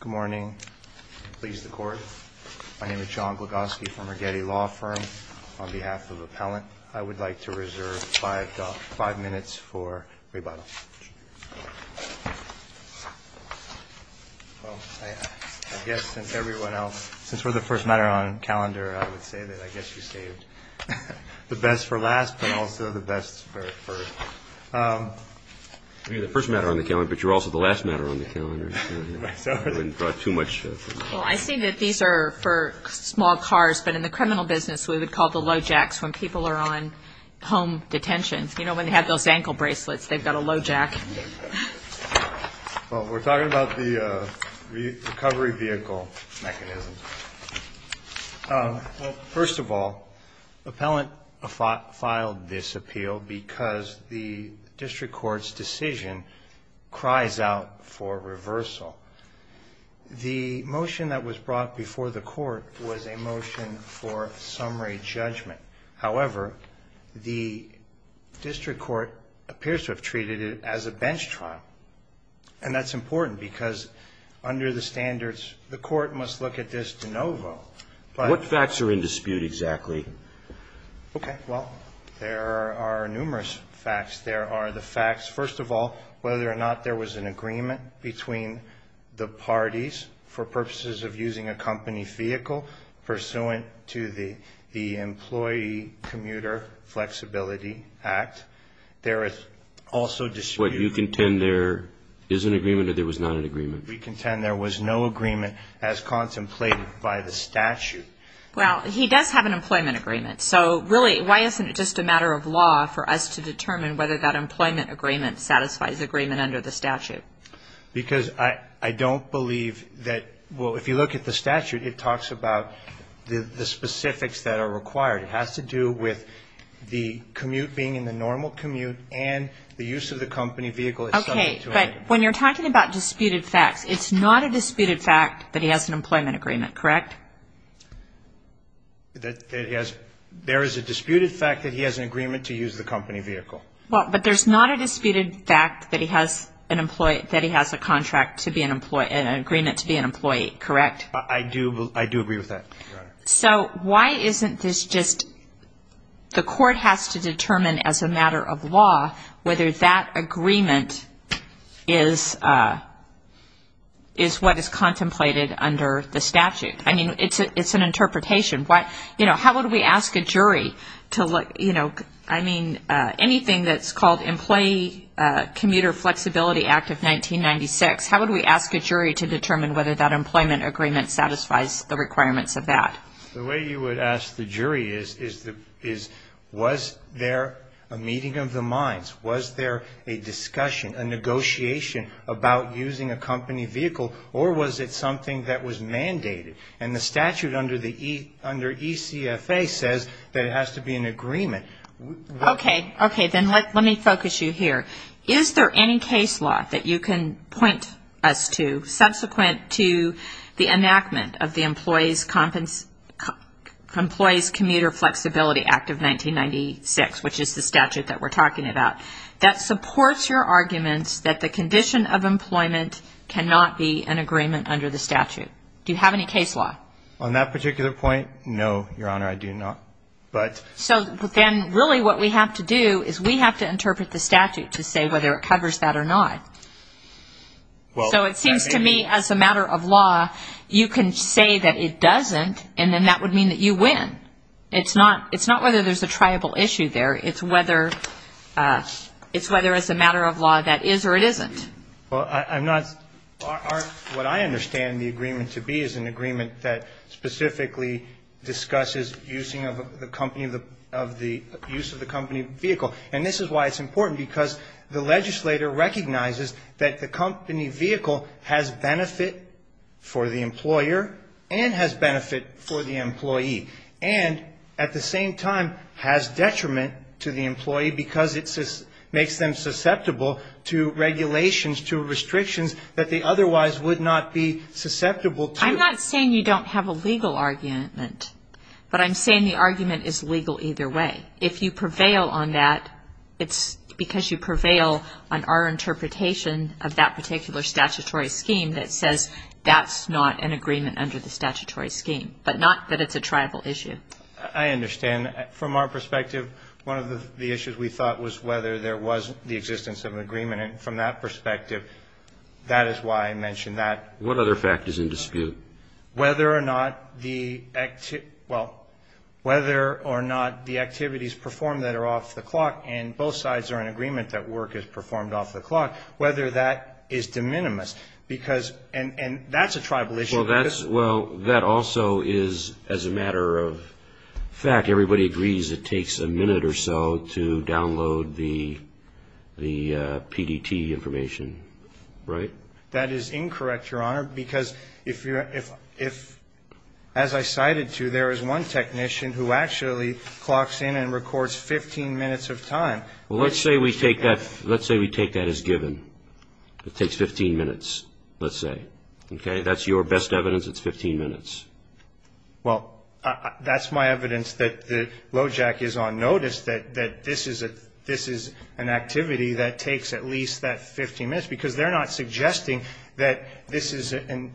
Good morning. Please, the Court. My name is John Glagoski from Regetti Law Firm. On behalf of Appellant, I would like to reserve five minutes for rebuttal. Well, I guess since everyone else, since we're the first matter on the calendar, I would say that I guess you saved the best for last, but also the best for... You're the first matter on the calendar, but you're also the last matter on the calendar. Well, I see that these are for small cars, but in the criminal business, we would call the Lojacks when people are on home detentions. You know, when they have those ankle bracelets, they've got a Lojack. Well, we're talking about the recovery vehicle mechanism. Well, first of all, Appellant filed this appeal because the district court's decision cries out for reversal. The motion that was brought before the Court was a motion for summary judgment. However, the district court appears to have treated it as a bench trial, and that's important because under the standards, the Court must look at this de novo. But... What facts are in dispute exactly? Okay. Well, there are numerous facts. There are the facts, first of all, whether or not there was an agreement between the parties for purposes of using a company vehicle pursuant to the Employee Commuter Flexibility Act. There is also dispute... Wait. You contend there is an agreement or there was not an agreement? We contend there was no agreement as contemplated by the statute. Well, he does have an employment agreement. So, really, why isn't it just a matter of law for us to determine whether that employment agreement satisfies agreement under the statute? Because I don't believe that... Well, if you look at the statute, it talks about the specifics that are required. It has to do with the commute being in the normal commute and the use of the company vehicle... Okay. But when you're talking about disputed facts, it's not a disputed fact that he has an employment agreement, correct? There is a disputed fact that he has an agreement to use the company vehicle. Well, but there's not a disputed fact that he has a contract to be an employee and an agreement to be an employee, correct? I do agree with that, Your Honor. So why isn't this just the court has to determine as a matter of law whether that agreement is what is contemplated under the statute? I mean, it's an interpretation. How would we ask a jury to look... I mean, anything that's called Employee Commuter Flexibility Act of 1996, how would we ask a jury to determine whether that employment agreement satisfies the requirements of that? The way you would ask the jury is, was there a meeting of the minds? Was there a discussion, a negotiation about using a company vehicle, or was it something that was mandated? And the statute under ECFA says that it has to be an agreement. Okay. Okay. Then let me focus you here. Is there any case law that you can point us to subsequent to the enactment of the Employees Commuter Flexibility Act of 1996, which is the statute that we're talking about, that supports your arguments that the condition of employment cannot be an agreement under the statute? Do you have any case law? On that particular point, no, Your Honor, I do not. So then really what we have to do is we have to interpret the statute to say whether it covers that or not. So it seems to me as a matter of law, you can say that it doesn't, and then that would mean that you win. It's not whether there's a triable issue there. It's whether it's a matter of law that is or it isn't. What I understand the agreement to be is an agreement that specifically discusses the use of the company vehicle. And this is why it's important, because the legislator recognizes that the company vehicle has benefit for the employer and has benefit for the employee and at the same time has detriment to the employee because it makes them susceptible to regulations, to restrictions that they otherwise would not be susceptible to. I'm not saying you don't have a legal argument, but I'm saying the argument is legal either way. If you prevail on that, it's because you prevail on our interpretation of that particular statutory scheme that says that's not an agreement under the statutory scheme, but not that it's a triable issue. I understand. From our perspective, one of the issues we thought was whether there was the existence of an agreement. And from that perspective, that is why I mentioned that. What other factors in dispute? Whether or not the activities perform that are off the clock, and both sides are in agreement that work is performed off the clock, whether that is de minimis. And that's a tribal issue. Well, that also is, as a matter of fact, everybody agrees it takes a minute or so to download the PDT information, right? That is incorrect, Your Honor, because as I cited to you, there is one technician who actually clocks in and records 15 minutes of time. Well, let's say we take that as given. It takes 15 minutes, let's say. Okay? If that's your best evidence, it's 15 minutes. Well, that's my evidence that the LOJAC is on notice that this is an activity that takes at least that 15 minutes, because they're not suggesting that this is an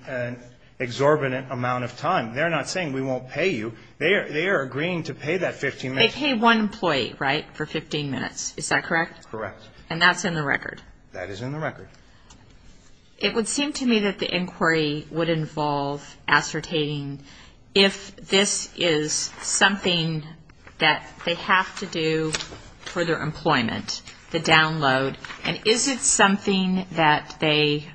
exorbitant amount of time. They're not saying we won't pay you. They are agreeing to pay that 15 minutes. They pay one employee, right, for 15 minutes. Is that correct? Correct. And that's in the record? That is in the record. It would seem to me that the inquiry would involve ascertaining if this is something that they have to do for their employment, the download, and is it something that they,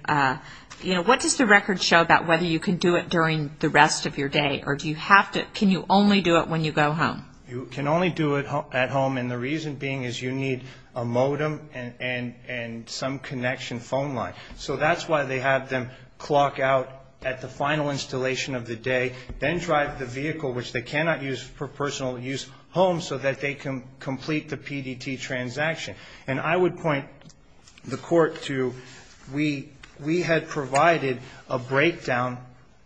you know, what does the record show about whether you can do it during the rest of your day, or do you have to, can you only do it when you go home? You can only do it at home, and the reason being is you need a modem and some connection phone line. So that's why they have them clock out at the final installation of the day, then drive the vehicle, which they cannot use for personal use, home so that they can complete the PDT transaction. And I would point the Court to we had provided a breakdown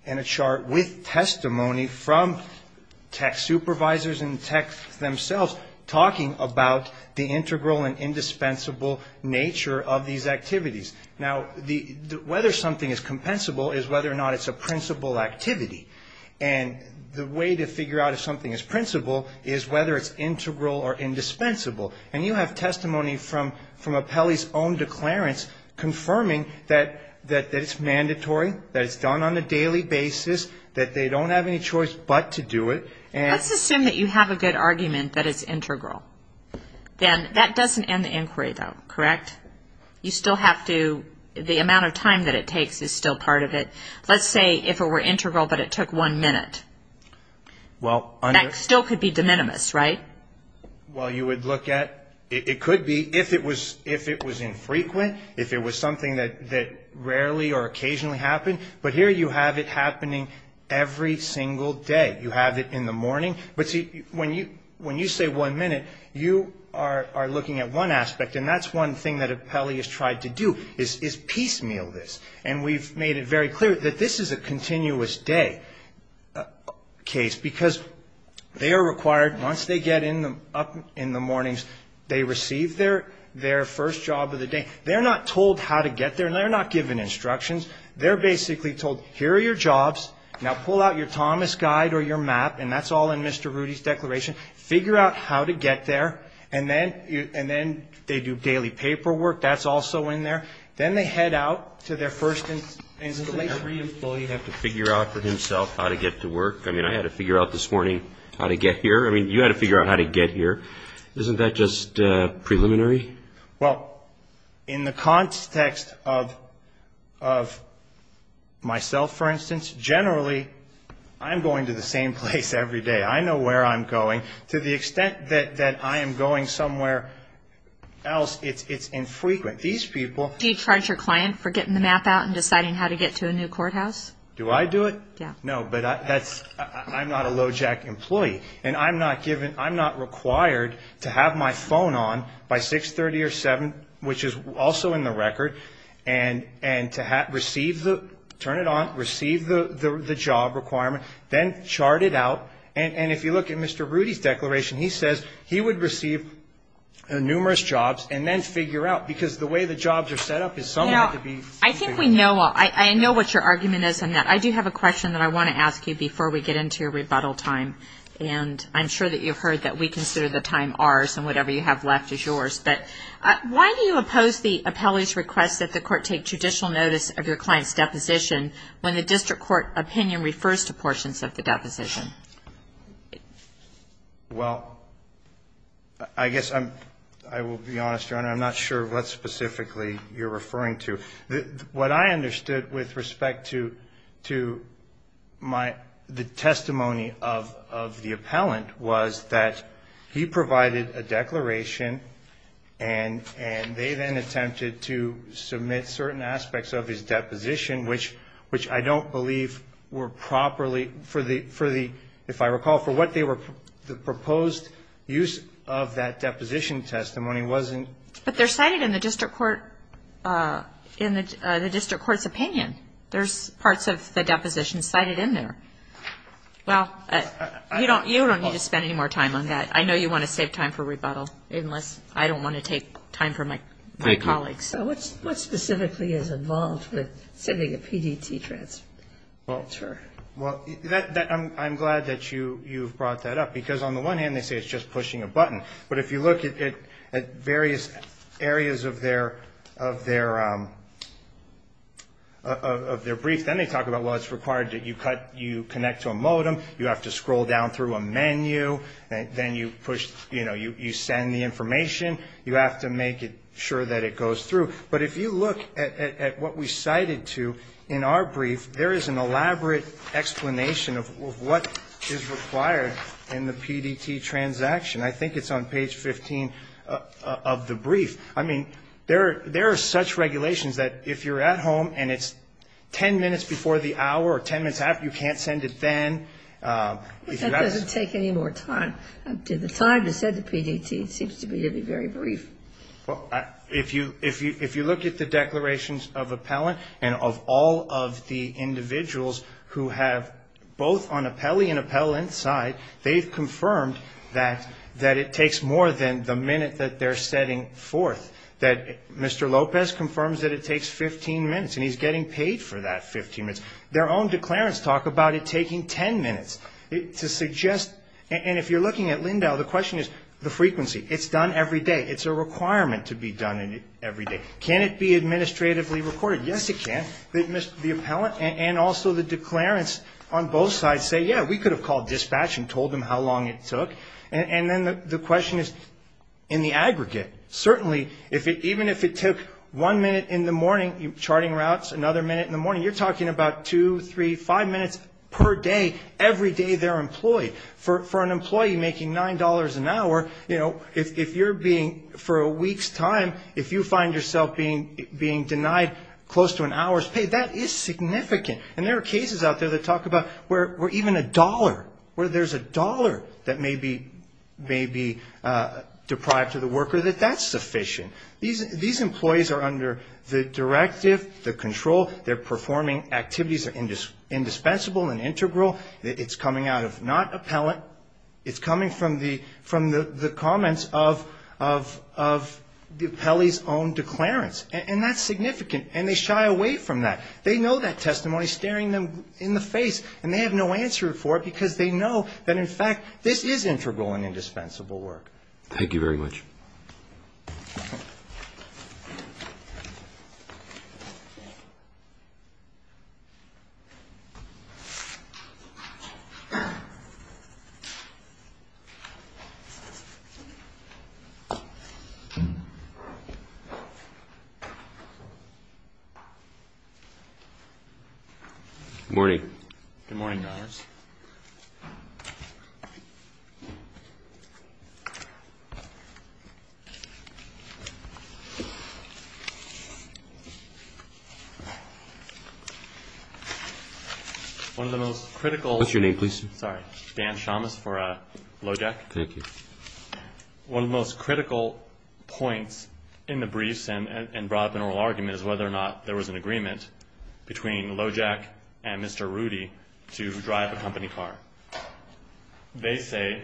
and a chart with testimony from tech supervisors and tech themselves talking about the integral and indispensable nature of these activities. Now, whether something is compensable is whether or not it's a principal activity, and the way to figure out if something is principal is whether it's integral or indispensable, and you have testimony from Apelli's own declarants confirming that it's mandatory, that it's done on a daily basis, that they don't have any choice but to do it. Let's assume that you have a good argument that it's integral. That doesn't end the inquiry, though, correct? You still have to, the amount of time that it takes is still part of it. Let's say if it were integral but it took one minute. That still could be de minimis, right? Well, you would look at it could be if it was infrequent, if it was something that rarely or occasionally happened, but here you have it happening every single day. You have it in the morning. But, see, when you say one minute, you are looking at one aspect, and that's one thing that Apelli has tried to do is piecemeal this, and we've made it very clear that this is a continuous day case because they are required, once they get up in the mornings, they receive their first job of the day. They're not told how to get there, and they're not given instructions. They're basically told here are your jobs. Now pull out your Thomas guide or your map, and that's all in Mr. Rudy's declaration. Figure out how to get there, and then they do daily paperwork. That's also in there. Then they head out to their first installation. Doesn't every employee have to figure out for himself how to get to work? I mean, I had to figure out this morning how to get here. I mean, you had to figure out how to get here. Isn't that just preliminary? Well, in the context of myself, for instance, generally I'm going to the same place every day. I know where I'm going. To the extent that I am going somewhere else, it's infrequent. Do you charge your client for getting the map out and deciding how to get to a new courthouse? Do I do it? No, but I'm not a LOJAC employee, and I'm not required to have my phone on by 6, 30, or 7, which is also in the record, and to receive the job requirement, then chart it out. And if you look at Mr. Rudy's declaration, he says he would receive numerous jobs and then figure out because the way the jobs are set up is somewhat to be. Now, I think we know. I know what your argument is on that. I do have a question that I want to ask you before we get into your rebuttal time, and I'm sure that you've heard that we consider the time ours and whatever you have left is yours. But why do you oppose the appellee's request that the court take judicial notice of your client's deposition when the district court opinion refers to portions of the deposition? Well, I guess I will be honest, Your Honor. I'm not sure what specifically you're referring to. What I understood with respect to the testimony of the appellant was that he provided a declaration and they then attempted to submit certain aspects of his deposition, which I don't believe were properly, if I recall, for what the proposed use of that deposition testimony wasn't. But they're cited in the district court's opinion. There's parts of the deposition cited in there. Well, you don't need to spend any more time on that. I know you want to save time for rebuttal, unless I don't want to take time for my colleagues. So what specifically is involved with sending a PDT transfer? Well, I'm glad that you've brought that up, because on the one hand, they say it's just pushing a button. But if you look at various areas of their brief, then they talk about, well, it's required that you connect to a modem, you have to scroll down through a menu, then you push, you know, you send the information, you have to make sure that it goes through. But if you look at what we cited to in our brief, there is an elaborate explanation of what is required in the PDT transaction. I think it's on page 15 of the brief. I mean, there are such regulations that if you're at home and it's ten minutes before the hour or ten minutes after, you can't send it then. If you've got to see it. But that doesn't take any more time. To the time to send the PDT seems to be very brief. Well, if you look at the declarations of appellant and of all of the individuals who have both on appellee and appellant side, they've confirmed that it takes more than the minute that they're setting forth. That Mr. Lopez confirms that it takes 15 minutes, and he's getting paid for that 15 minutes. Their own declarants talk about it taking ten minutes. And if you're looking at Lindau, the question is the frequency. It's done every day. It's a requirement to be done every day. Can it be administratively recorded? Yes, it can. The appellant and also the declarants on both sides say, yeah, we could have called dispatch and told them how long it took. And then the question is in the aggregate. Certainly, even if it took one minute in the morning, charting routes, another minute in the morning, you're talking about two, three, five minutes per day, every day they're employed. For an employee making $9 an hour, you know, if you're being for a week's time, if you find yourself being denied close to an hour's pay, that is significant. And there are cases out there that talk about where even a dollar, where there's a dollar that may be deprived to the worker, that that's sufficient. These employees are under the directive, the control. They're performing activities that are indispensable and integral. It's coming out of not appellant. It's coming from the comments of the appellee's own declarants. And that's significant, and they shy away from that. They know that testimony staring them in the face, and they have no answer for it because they know that, in fact, this is integral and indispensable work. Thank you very much. Good morning. Good morning, Your Honors. One of the most critical. What's your name, please? Sorry. Dan Shamas for LOJEC. Thank you. One of the most critical points in the briefs and brought up in oral argument is whether or not there was an agreement between LOJEC and Mr. Rudy to drive a company car. They say,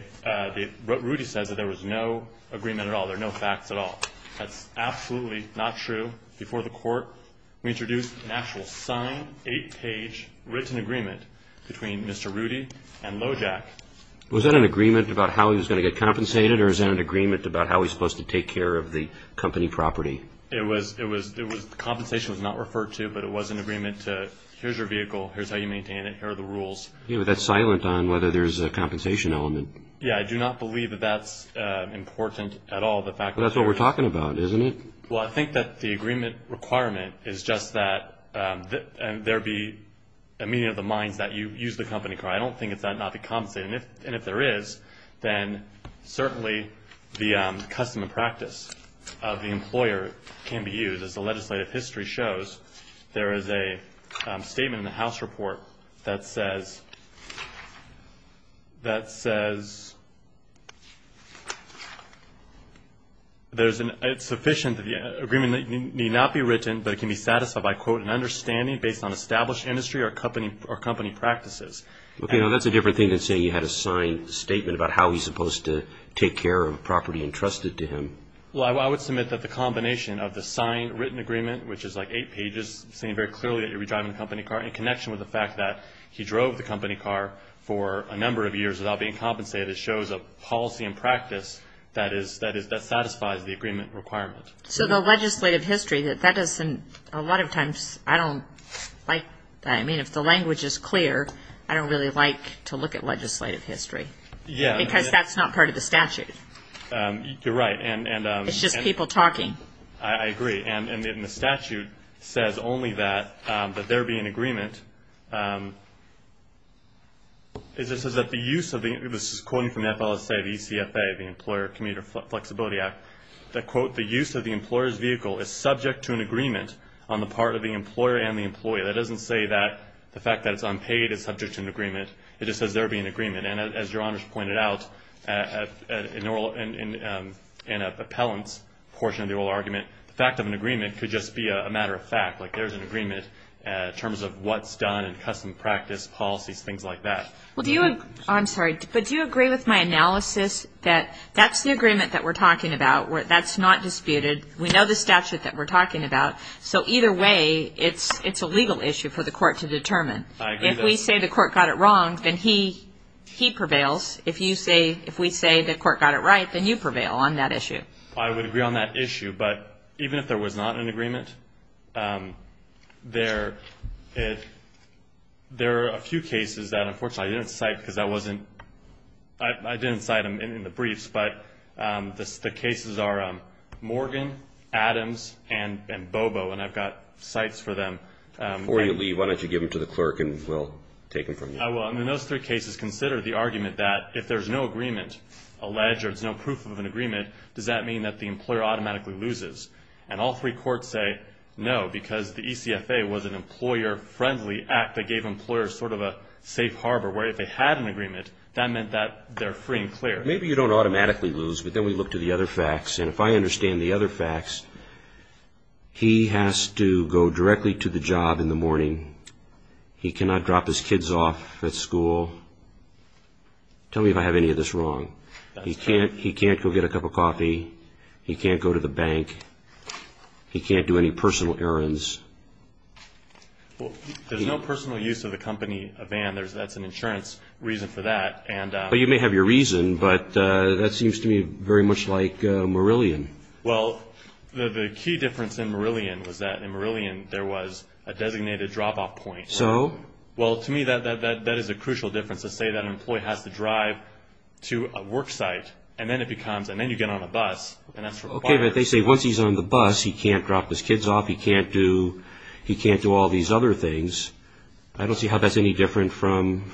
Rudy says that there was no agreement at all. There are no facts at all. That's absolutely not true. Before the court, we introduced an actual sign, eight-page written agreement between Mr. Rudy and LOJEC. Was that an agreement about how he was going to get compensated, or is that an agreement about how he's supposed to take care of the company property? It was the compensation was not referred to, but it was an agreement to here's your vehicle, here's how you maintain it, here are the rules. Yeah, but that's silent on whether there's a compensation element. Yeah, I do not believe that that's important at all. That's what we're talking about, isn't it? Well, I think that the agreement requirement is just that there be a meeting of the minds that you use the company car. I don't think it's that not be compensated. And if there is, then certainly the custom and practice of the employer can be used. As the legislative history shows, there is a statement in the House report that says, it's sufficient that the agreement need not be written, but it can be satisfied by, quote, an understanding based on established industry or company practices. Okay, now that's a different thing than saying you had a signed statement about how he's supposed to take care of property entrusted to him. Well, I would submit that the combination of the signed written agreement, which is like eight pages saying very clearly that you'll be driving the company car, in connection with the fact that he drove the company car for a number of years without being compensated, it shows a policy and practice that satisfies the agreement requirement. So the legislative history, that doesn't, a lot of times I don't like that. I mean, if the language is clear, I don't really like to look at legislative history. Because that's not part of the statute. You're right. It's just people talking. I agree. And the statute says only that there be an agreement. It just says that the use of the, this is quoting from the FLSA, the ECFA, the Employer Commuter Flexibility Act, that, quote, the use of the employer's vehicle is subject to an agreement on the part of the employer and the employee. That doesn't say that the fact that it's unpaid is subject to an agreement. It just says there be an agreement. And as Your Honors pointed out, in an appellant's portion of the oral argument, the fact of an agreement could just be a matter of fact, like there's an agreement in terms of what's done and custom practice policies, things like that. I'm sorry, but do you agree with my analysis that that's the agreement that we're talking about, that's not disputed, we know the statute that we're talking about, so either way it's a legal issue for the court to determine? I agree. If we say the court got it wrong, then he prevails. If we say the court got it right, then you prevail on that issue. I would agree on that issue. But even if there was not an agreement, there are a few cases that, unfortunately, I didn't cite because that wasn't, I didn't cite them in the briefs, but the cases are Morgan, Adams, and Bobo, and I've got cites for them. Why don't you give them to the clerk and we'll take them from you? I will. And in those three cases, consider the argument that if there's no agreement, a ledge or there's no proof of an agreement, does that mean that the employer automatically loses? And all three courts say no because the ECFA was an employer-friendly act that gave employers sort of a safe harbor, where if they had an agreement, that meant that they're free and clear. Maybe you don't automatically lose, but then we look to the other facts. And if I understand the other facts, he has to go directly to the job in the morning. He cannot drop his kids off at school. Tell me if I have any of this wrong. He can't go get a cup of coffee. He can't go to the bank. He can't do any personal errands. There's no personal use of the company van. That's an insurance reason for that. But you may have your reason, but that seems to me very much like Marillion. Well, the key difference in Marillion was that in Marillion there was a designated drop-off point. So? Well, to me, that is a crucial difference to say that an employee has to drive to a work site, and then it becomes, and then you get on a bus, and that's required. Okay, but they say once he's on the bus, he can't drop his kids off, he can't do all these other things. I don't see how that's any different from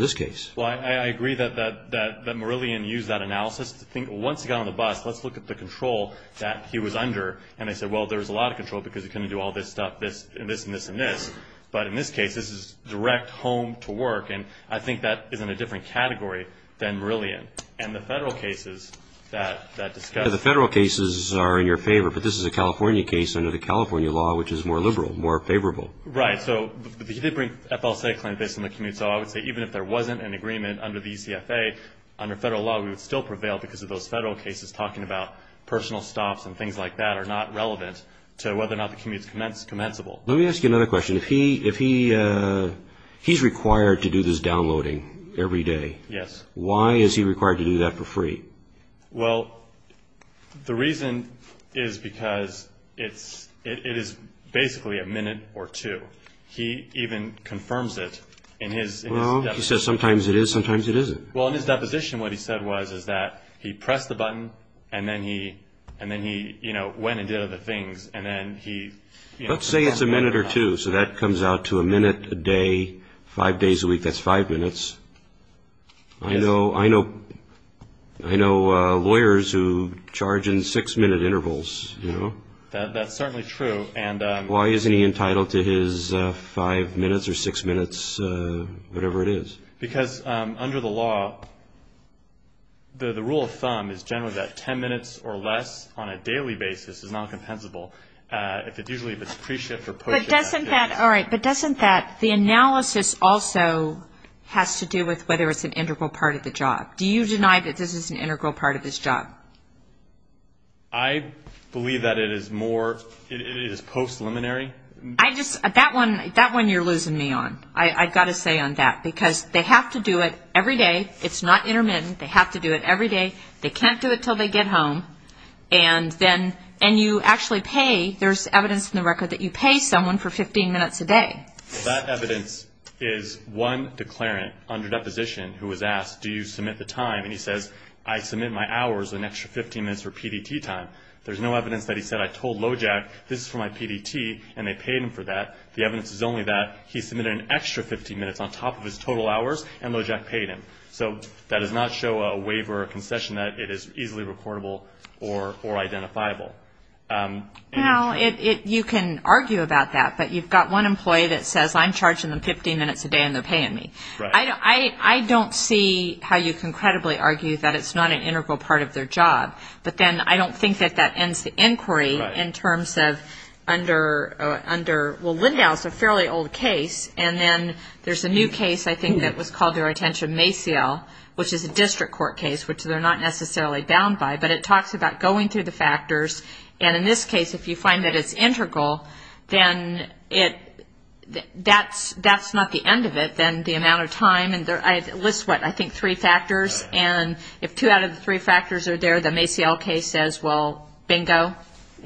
this case. Well, I agree that Marillion used that analysis to think once he got on the bus, let's look at the control that he was under. And they said, well, there was a lot of control because he couldn't do all this stuff, this and this and this. But in this case, this is direct home to work, and I think that is in a different category than Marillion. And the federal cases that discuss it. The federal cases are in your favor, but this is a California case under the California law, which is more liberal, more favorable. Right. So they did bring an FLSA claim based on the commute. So I would say even if there wasn't an agreement under the ECFA, under federal law, we would still prevail because of those federal cases talking about personal stops and things like that are not relevant to whether or not the commute is commensable. Let me ask you another question. If he's required to do this downloading every day, why is he required to do that for free? Well, the reason is because it is basically a minute or two. He even confirms it in his deposition. Well, he says sometimes it is, sometimes it isn't. Well, in his deposition what he said was that he pressed the button and then he went and did other things. Let's say it's a minute or two, so that comes out to a minute a day, five days a week, that's five minutes. I know lawyers who charge in six-minute intervals. That's certainly true. Why isn't he entitled to his five minutes or six minutes, whatever it is? Because under the law, the rule of thumb is generally that ten minutes or less on a daily basis is not compensable. Usually if it's pre-shift or post-shift. But doesn't that, all right, but doesn't that, the analysis also has to do with whether it's an integral part of the job. Do you deny that this is an integral part of his job? I believe that it is more, it is post-liminary. That one you're losing me on. I've got to say on that because they have to do it every day. It's not intermittent. They have to do it every day. They can't do it until they get home. And then, and you actually pay, there's evidence in the record that you pay someone for 15 minutes a day. That evidence is one declarant under deposition who was asked, do you submit the time? And he says, I submit my hours, an extra 15 minutes for PDT time. There's no evidence that he said, I told Lojack this is for my PDT, and they paid him for that. The evidence is only that he submitted an extra 15 minutes on top of his total hours, and Lojack paid him. So that does not show a waiver, a concession that it is easily recordable or identifiable. Well, you can argue about that, but you've got one employee that says, I'm charging them 15 minutes a day and they're paying me. I don't see how you can credibly argue that it's not an integral part of their job, but then I don't think that that ends the inquiry in terms of under, well, Lindhaus, a fairly old case, and then there's a new case, I think, that was called to our attention, Maciel, which is a district court case, which they're not necessarily bound by, but it talks about going through the factors, and in this case, if you find that it's integral, then that's not the end of it, then the amount of time, and it lists, what, I think three factors, and if two out of the three factors are there, the Maciel case says, well, bingo,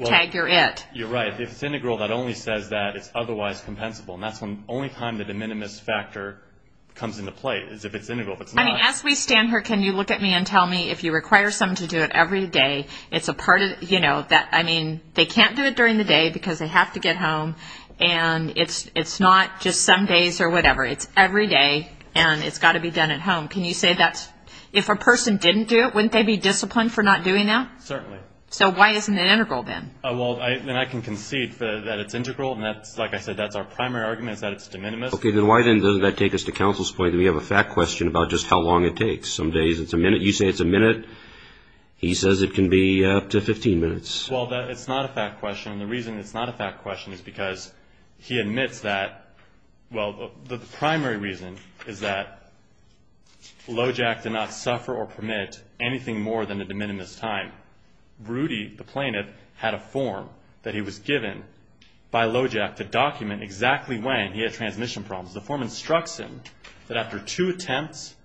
tag, you're it. You're right. If it's integral, that only says that it's otherwise compensable, and that's the only time that the minimus factor comes into play is if it's integral. I mean, as we stand here, can you look at me and tell me, if you require someone to do it every day, it's a part of, you know, that, I mean, they can't do it during the day because they have to get home, and it's not just some days or whatever. It's every day, and it's got to be done at home. Can you say that's, if a person didn't do it, wouldn't they be disciplined for not doing that? Certainly. So why isn't it integral then? Well, and I can concede that it's integral, and that's, like I said, that's our primary argument is that it's de minimis. Okay. Then why then doesn't that take us to counsel's point that we have a fact question about just how long it takes? Some days it's a minute. You say it's a minute. He says it can be up to 15 minutes. Well, it's not a fact question, and the reason it's not a fact question is because he admits that, well, the primary reason is that Lojac did not suffer or permit anything more than a de minimis time. Rudy, the plaintiff, had a form that he was given by Lojac to document exactly when he had transmission problems. The form instructs him that after two attempts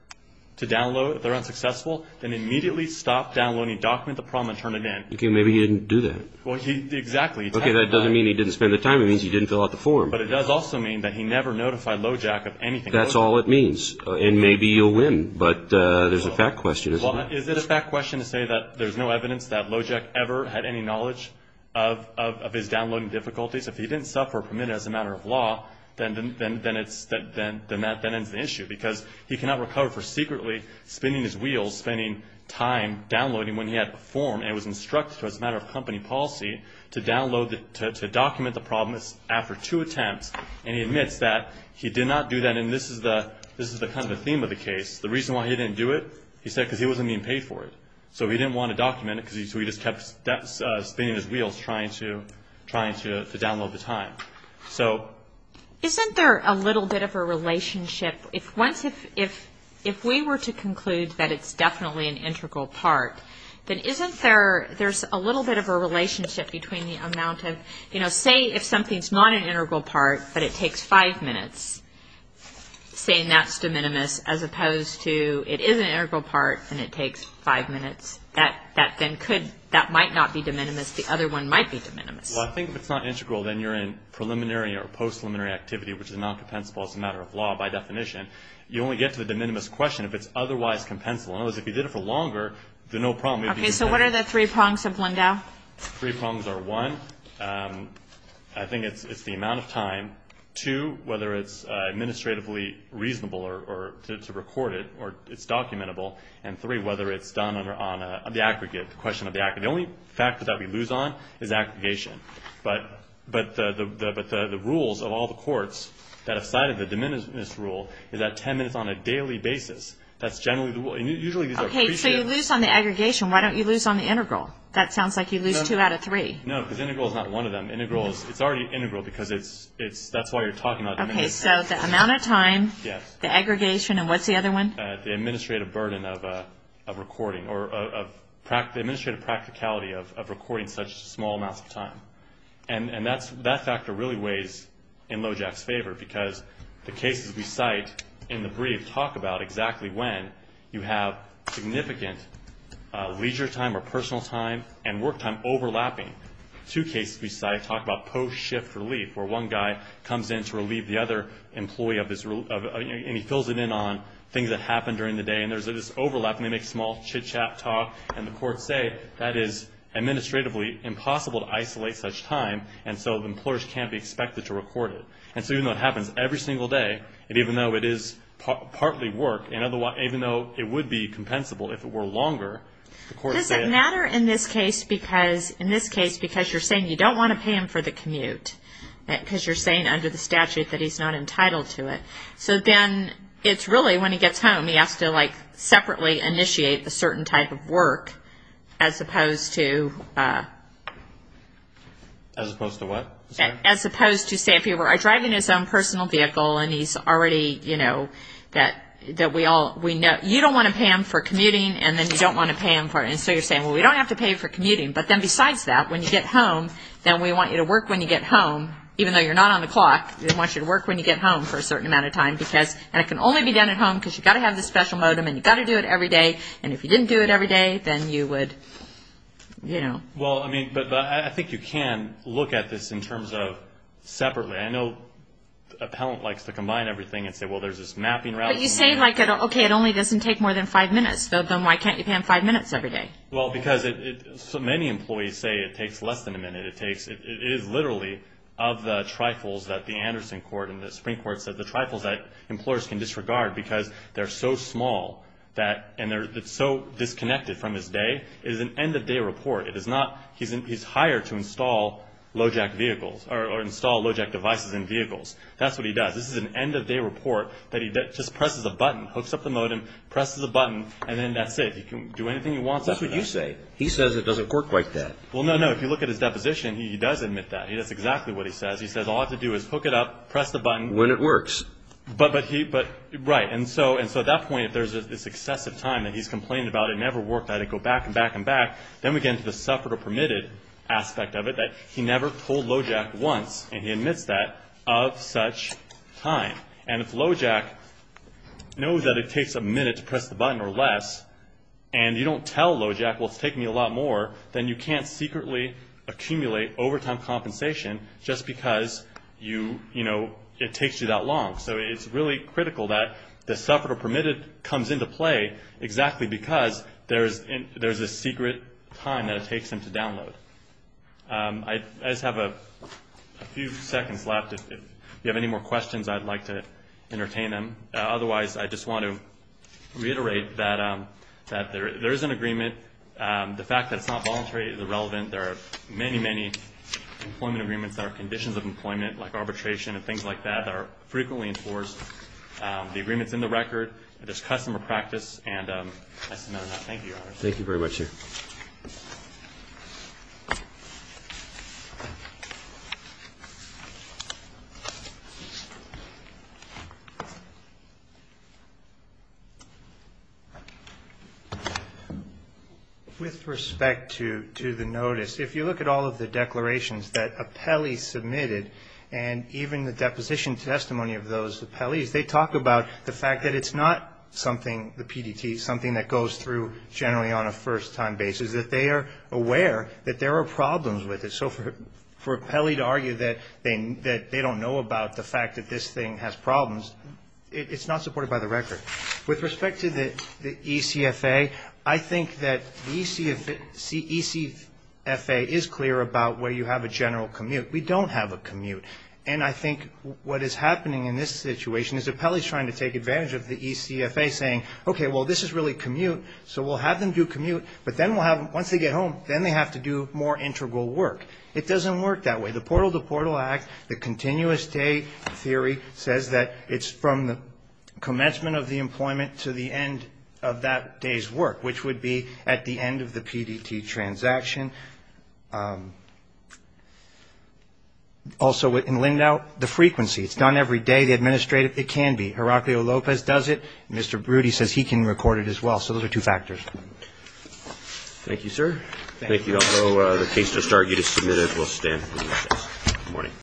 to download, if they're unsuccessful, then immediately stop downloading, document the problem, and turn it in. Okay. Maybe he didn't do that. Exactly. Okay. That doesn't mean he didn't spend the time. It means he didn't fill out the form. But it does also mean that he never notified Lojac of anything. That's all it means, and maybe you'll win, but there's a fact question, isn't there? Well, is it a fact question to say that there's no evidence that Lojac ever had any knowledge of his downloading difficulties? If he didn't suffer or permit it as a matter of law, then that ends the issue, because he cannot recover for secretly spinning his wheels, spending time downloading when he had a form, and it was instructed to him as a matter of company policy to download, to document the problem after two attempts, and he admits that he did not do that, and this is kind of the theme of the case. The reason why he didn't do it, he said because he wasn't being paid for it. So he didn't want to document it, so he just kept spinning his wheels trying to download the time. So isn't there a little bit of a relationship? If we were to conclude that it's definitely an integral part, then isn't there a little bit of a relationship between the amount of, you know, Say if something's not an integral part, but it takes five minutes, saying that's de minimis, as opposed to it is an integral part, and it takes five minutes. That then could, that might not be de minimis. The other one might be de minimis. Well, I think if it's not integral, then you're in preliminary or post-preliminary activity, which is not compensable as a matter of law by definition. You only get to the de minimis question if it's otherwise compensable. In other words, if you did it for longer, then no problem. Okay, so what are the three prongs of Lindau? Three prongs are, one, I think it's the amount of time. Two, whether it's administratively reasonable to record it or it's documentable. And three, whether it's done on the aggregate, the question of the aggregate. The only factor that we lose on is aggregation. But the rules of all the courts that have cited the de minimis rule is that 10 minutes on a daily basis. That's generally the rule. And usually these are pre-set. Okay, so you lose on the aggregation. Why don't you lose on the integral? That sounds like you lose two out of three. No, because integral is not one of them. It's already integral because that's why you're talking about de minimis. Okay, so the amount of time, the aggregation, and what's the other one? The administrative burden of recording or the administrative practicality of recording such small amounts of time. And that factor really weighs in Lojac's favor because the cases we cite in the brief talk about exactly when you have significant leisure time or personal time and work time overlapping. Two cases we cite talk about post-shift relief, where one guy comes in to relieve the other employee of this. And he fills it in on things that happen during the day. And there's this overlap, and they make small chit-chat talk. And the courts say that is administratively impossible to isolate such time, and so employers can't be expected to record it. And so even though it happens every single day, and even though it is partly work, and even though it would be compensable if it were longer, the courts say it. Does it matter in this case because you're saying you don't want to pay him for the commute because you're saying under the statute that he's not entitled to it? So then it's really when he gets home he has to, like, separately initiate a certain type of work as opposed to... As opposed to what? As opposed to, say, if you were driving his own personal vehicle and he's already, you know, that we all... You don't want to pay him for commuting, and then you don't want to pay him for... And so you're saying, well, we don't have to pay for commuting. But then besides that, when you get home, then we want you to work when you get home, even though you're not on the clock, we want you to work when you get home for a certain amount of time. And it can only be done at home because you've got to have this special modem, and you've got to do it every day. And if you didn't do it every day, then you would, you know... I mean, but I think you can look at this in terms of separately. I know a pellant likes to combine everything and say, well, there's this mapping route... But you say, like, okay, it only doesn't take more than five minutes. Then why can't you pay him five minutes every day? Well, because many employees say it takes less than a minute. It takes... It is literally of the trifles that the Anderson court and the Supreme Court said, the trifles that employers can disregard because they're so small that... And they're so disconnected from his day. It is an end-of-day report. It is not... He's hired to install low-jack vehicles or install low-jack devices in vehicles. That's what he does. This is an end-of-day report that he just presses a button, hooks up the modem, presses a button, and then that's it. He can do anything he wants. That's what you say. He says it doesn't work like that. Well, no, no. If you look at his deposition, he does admit that. That's exactly what he says. He says all I have to do is hook it up, press the button. When it works. But he... But... Right. And so at that point, if there's this excessive time that he's complaining about, it never worked. I had to go back and back and back. Then we get into the suffered or permitted aspect of it, that he never told low-jack once, and he admits that, of such time. And if low-jack knows that it takes a minute to press the button or less, and you don't tell low-jack, well, it's taking me a lot more, then you can't secretly accumulate overtime compensation just because you... You know, it takes you that long. So it's really critical that the suffered or permitted comes into play exactly because there's a secret time that it takes him to download. I just have a few seconds left. If you have any more questions, I'd like to entertain them. Otherwise, I just want to reiterate that there is an agreement. The fact that it's not voluntary is irrelevant. There are many, many employment agreements that are conditions of employment, like arbitration and things like that, that are frequently enforced. The agreement's in the record. There's customer practice. And that's enough. Thank you very much, sir. Thank you. With respect to the notice, if you look at all of the declarations that appellees submitted, and even the deposition testimony of those appellees, they talk about the fact that it's not something, the PDT, something that goes through generally on a first-time basis, that they are aware that there are problems with it. So for an appellee to argue that they don't know about the fact that this thing has problems, it's not supported by the record. With respect to the ECFA, I think that the ECFA is clear about where you have a general commute. We don't have a commute. And I think what is happening in this situation is appellees trying to take advantage of the ECFA saying, okay, well, this is really commute, so we'll have them do commute, but then we'll have them, once they get home, then they have to do more integral work. It doesn't work that way. The Portal to Portal Act, the continuous day theory, says that it's from the commencement of the employment to the end of that day's work, which would be at the end of the PDT transaction. Also, in Lindau, the frequency. It's done every day. The administrative, it can be. Heraclio Lopez does it. Mr. Brody says he can record it as well. So those are two factors. Thank you, sir. Thank you. Although the case just argued is submitted, we'll stand. Good morning.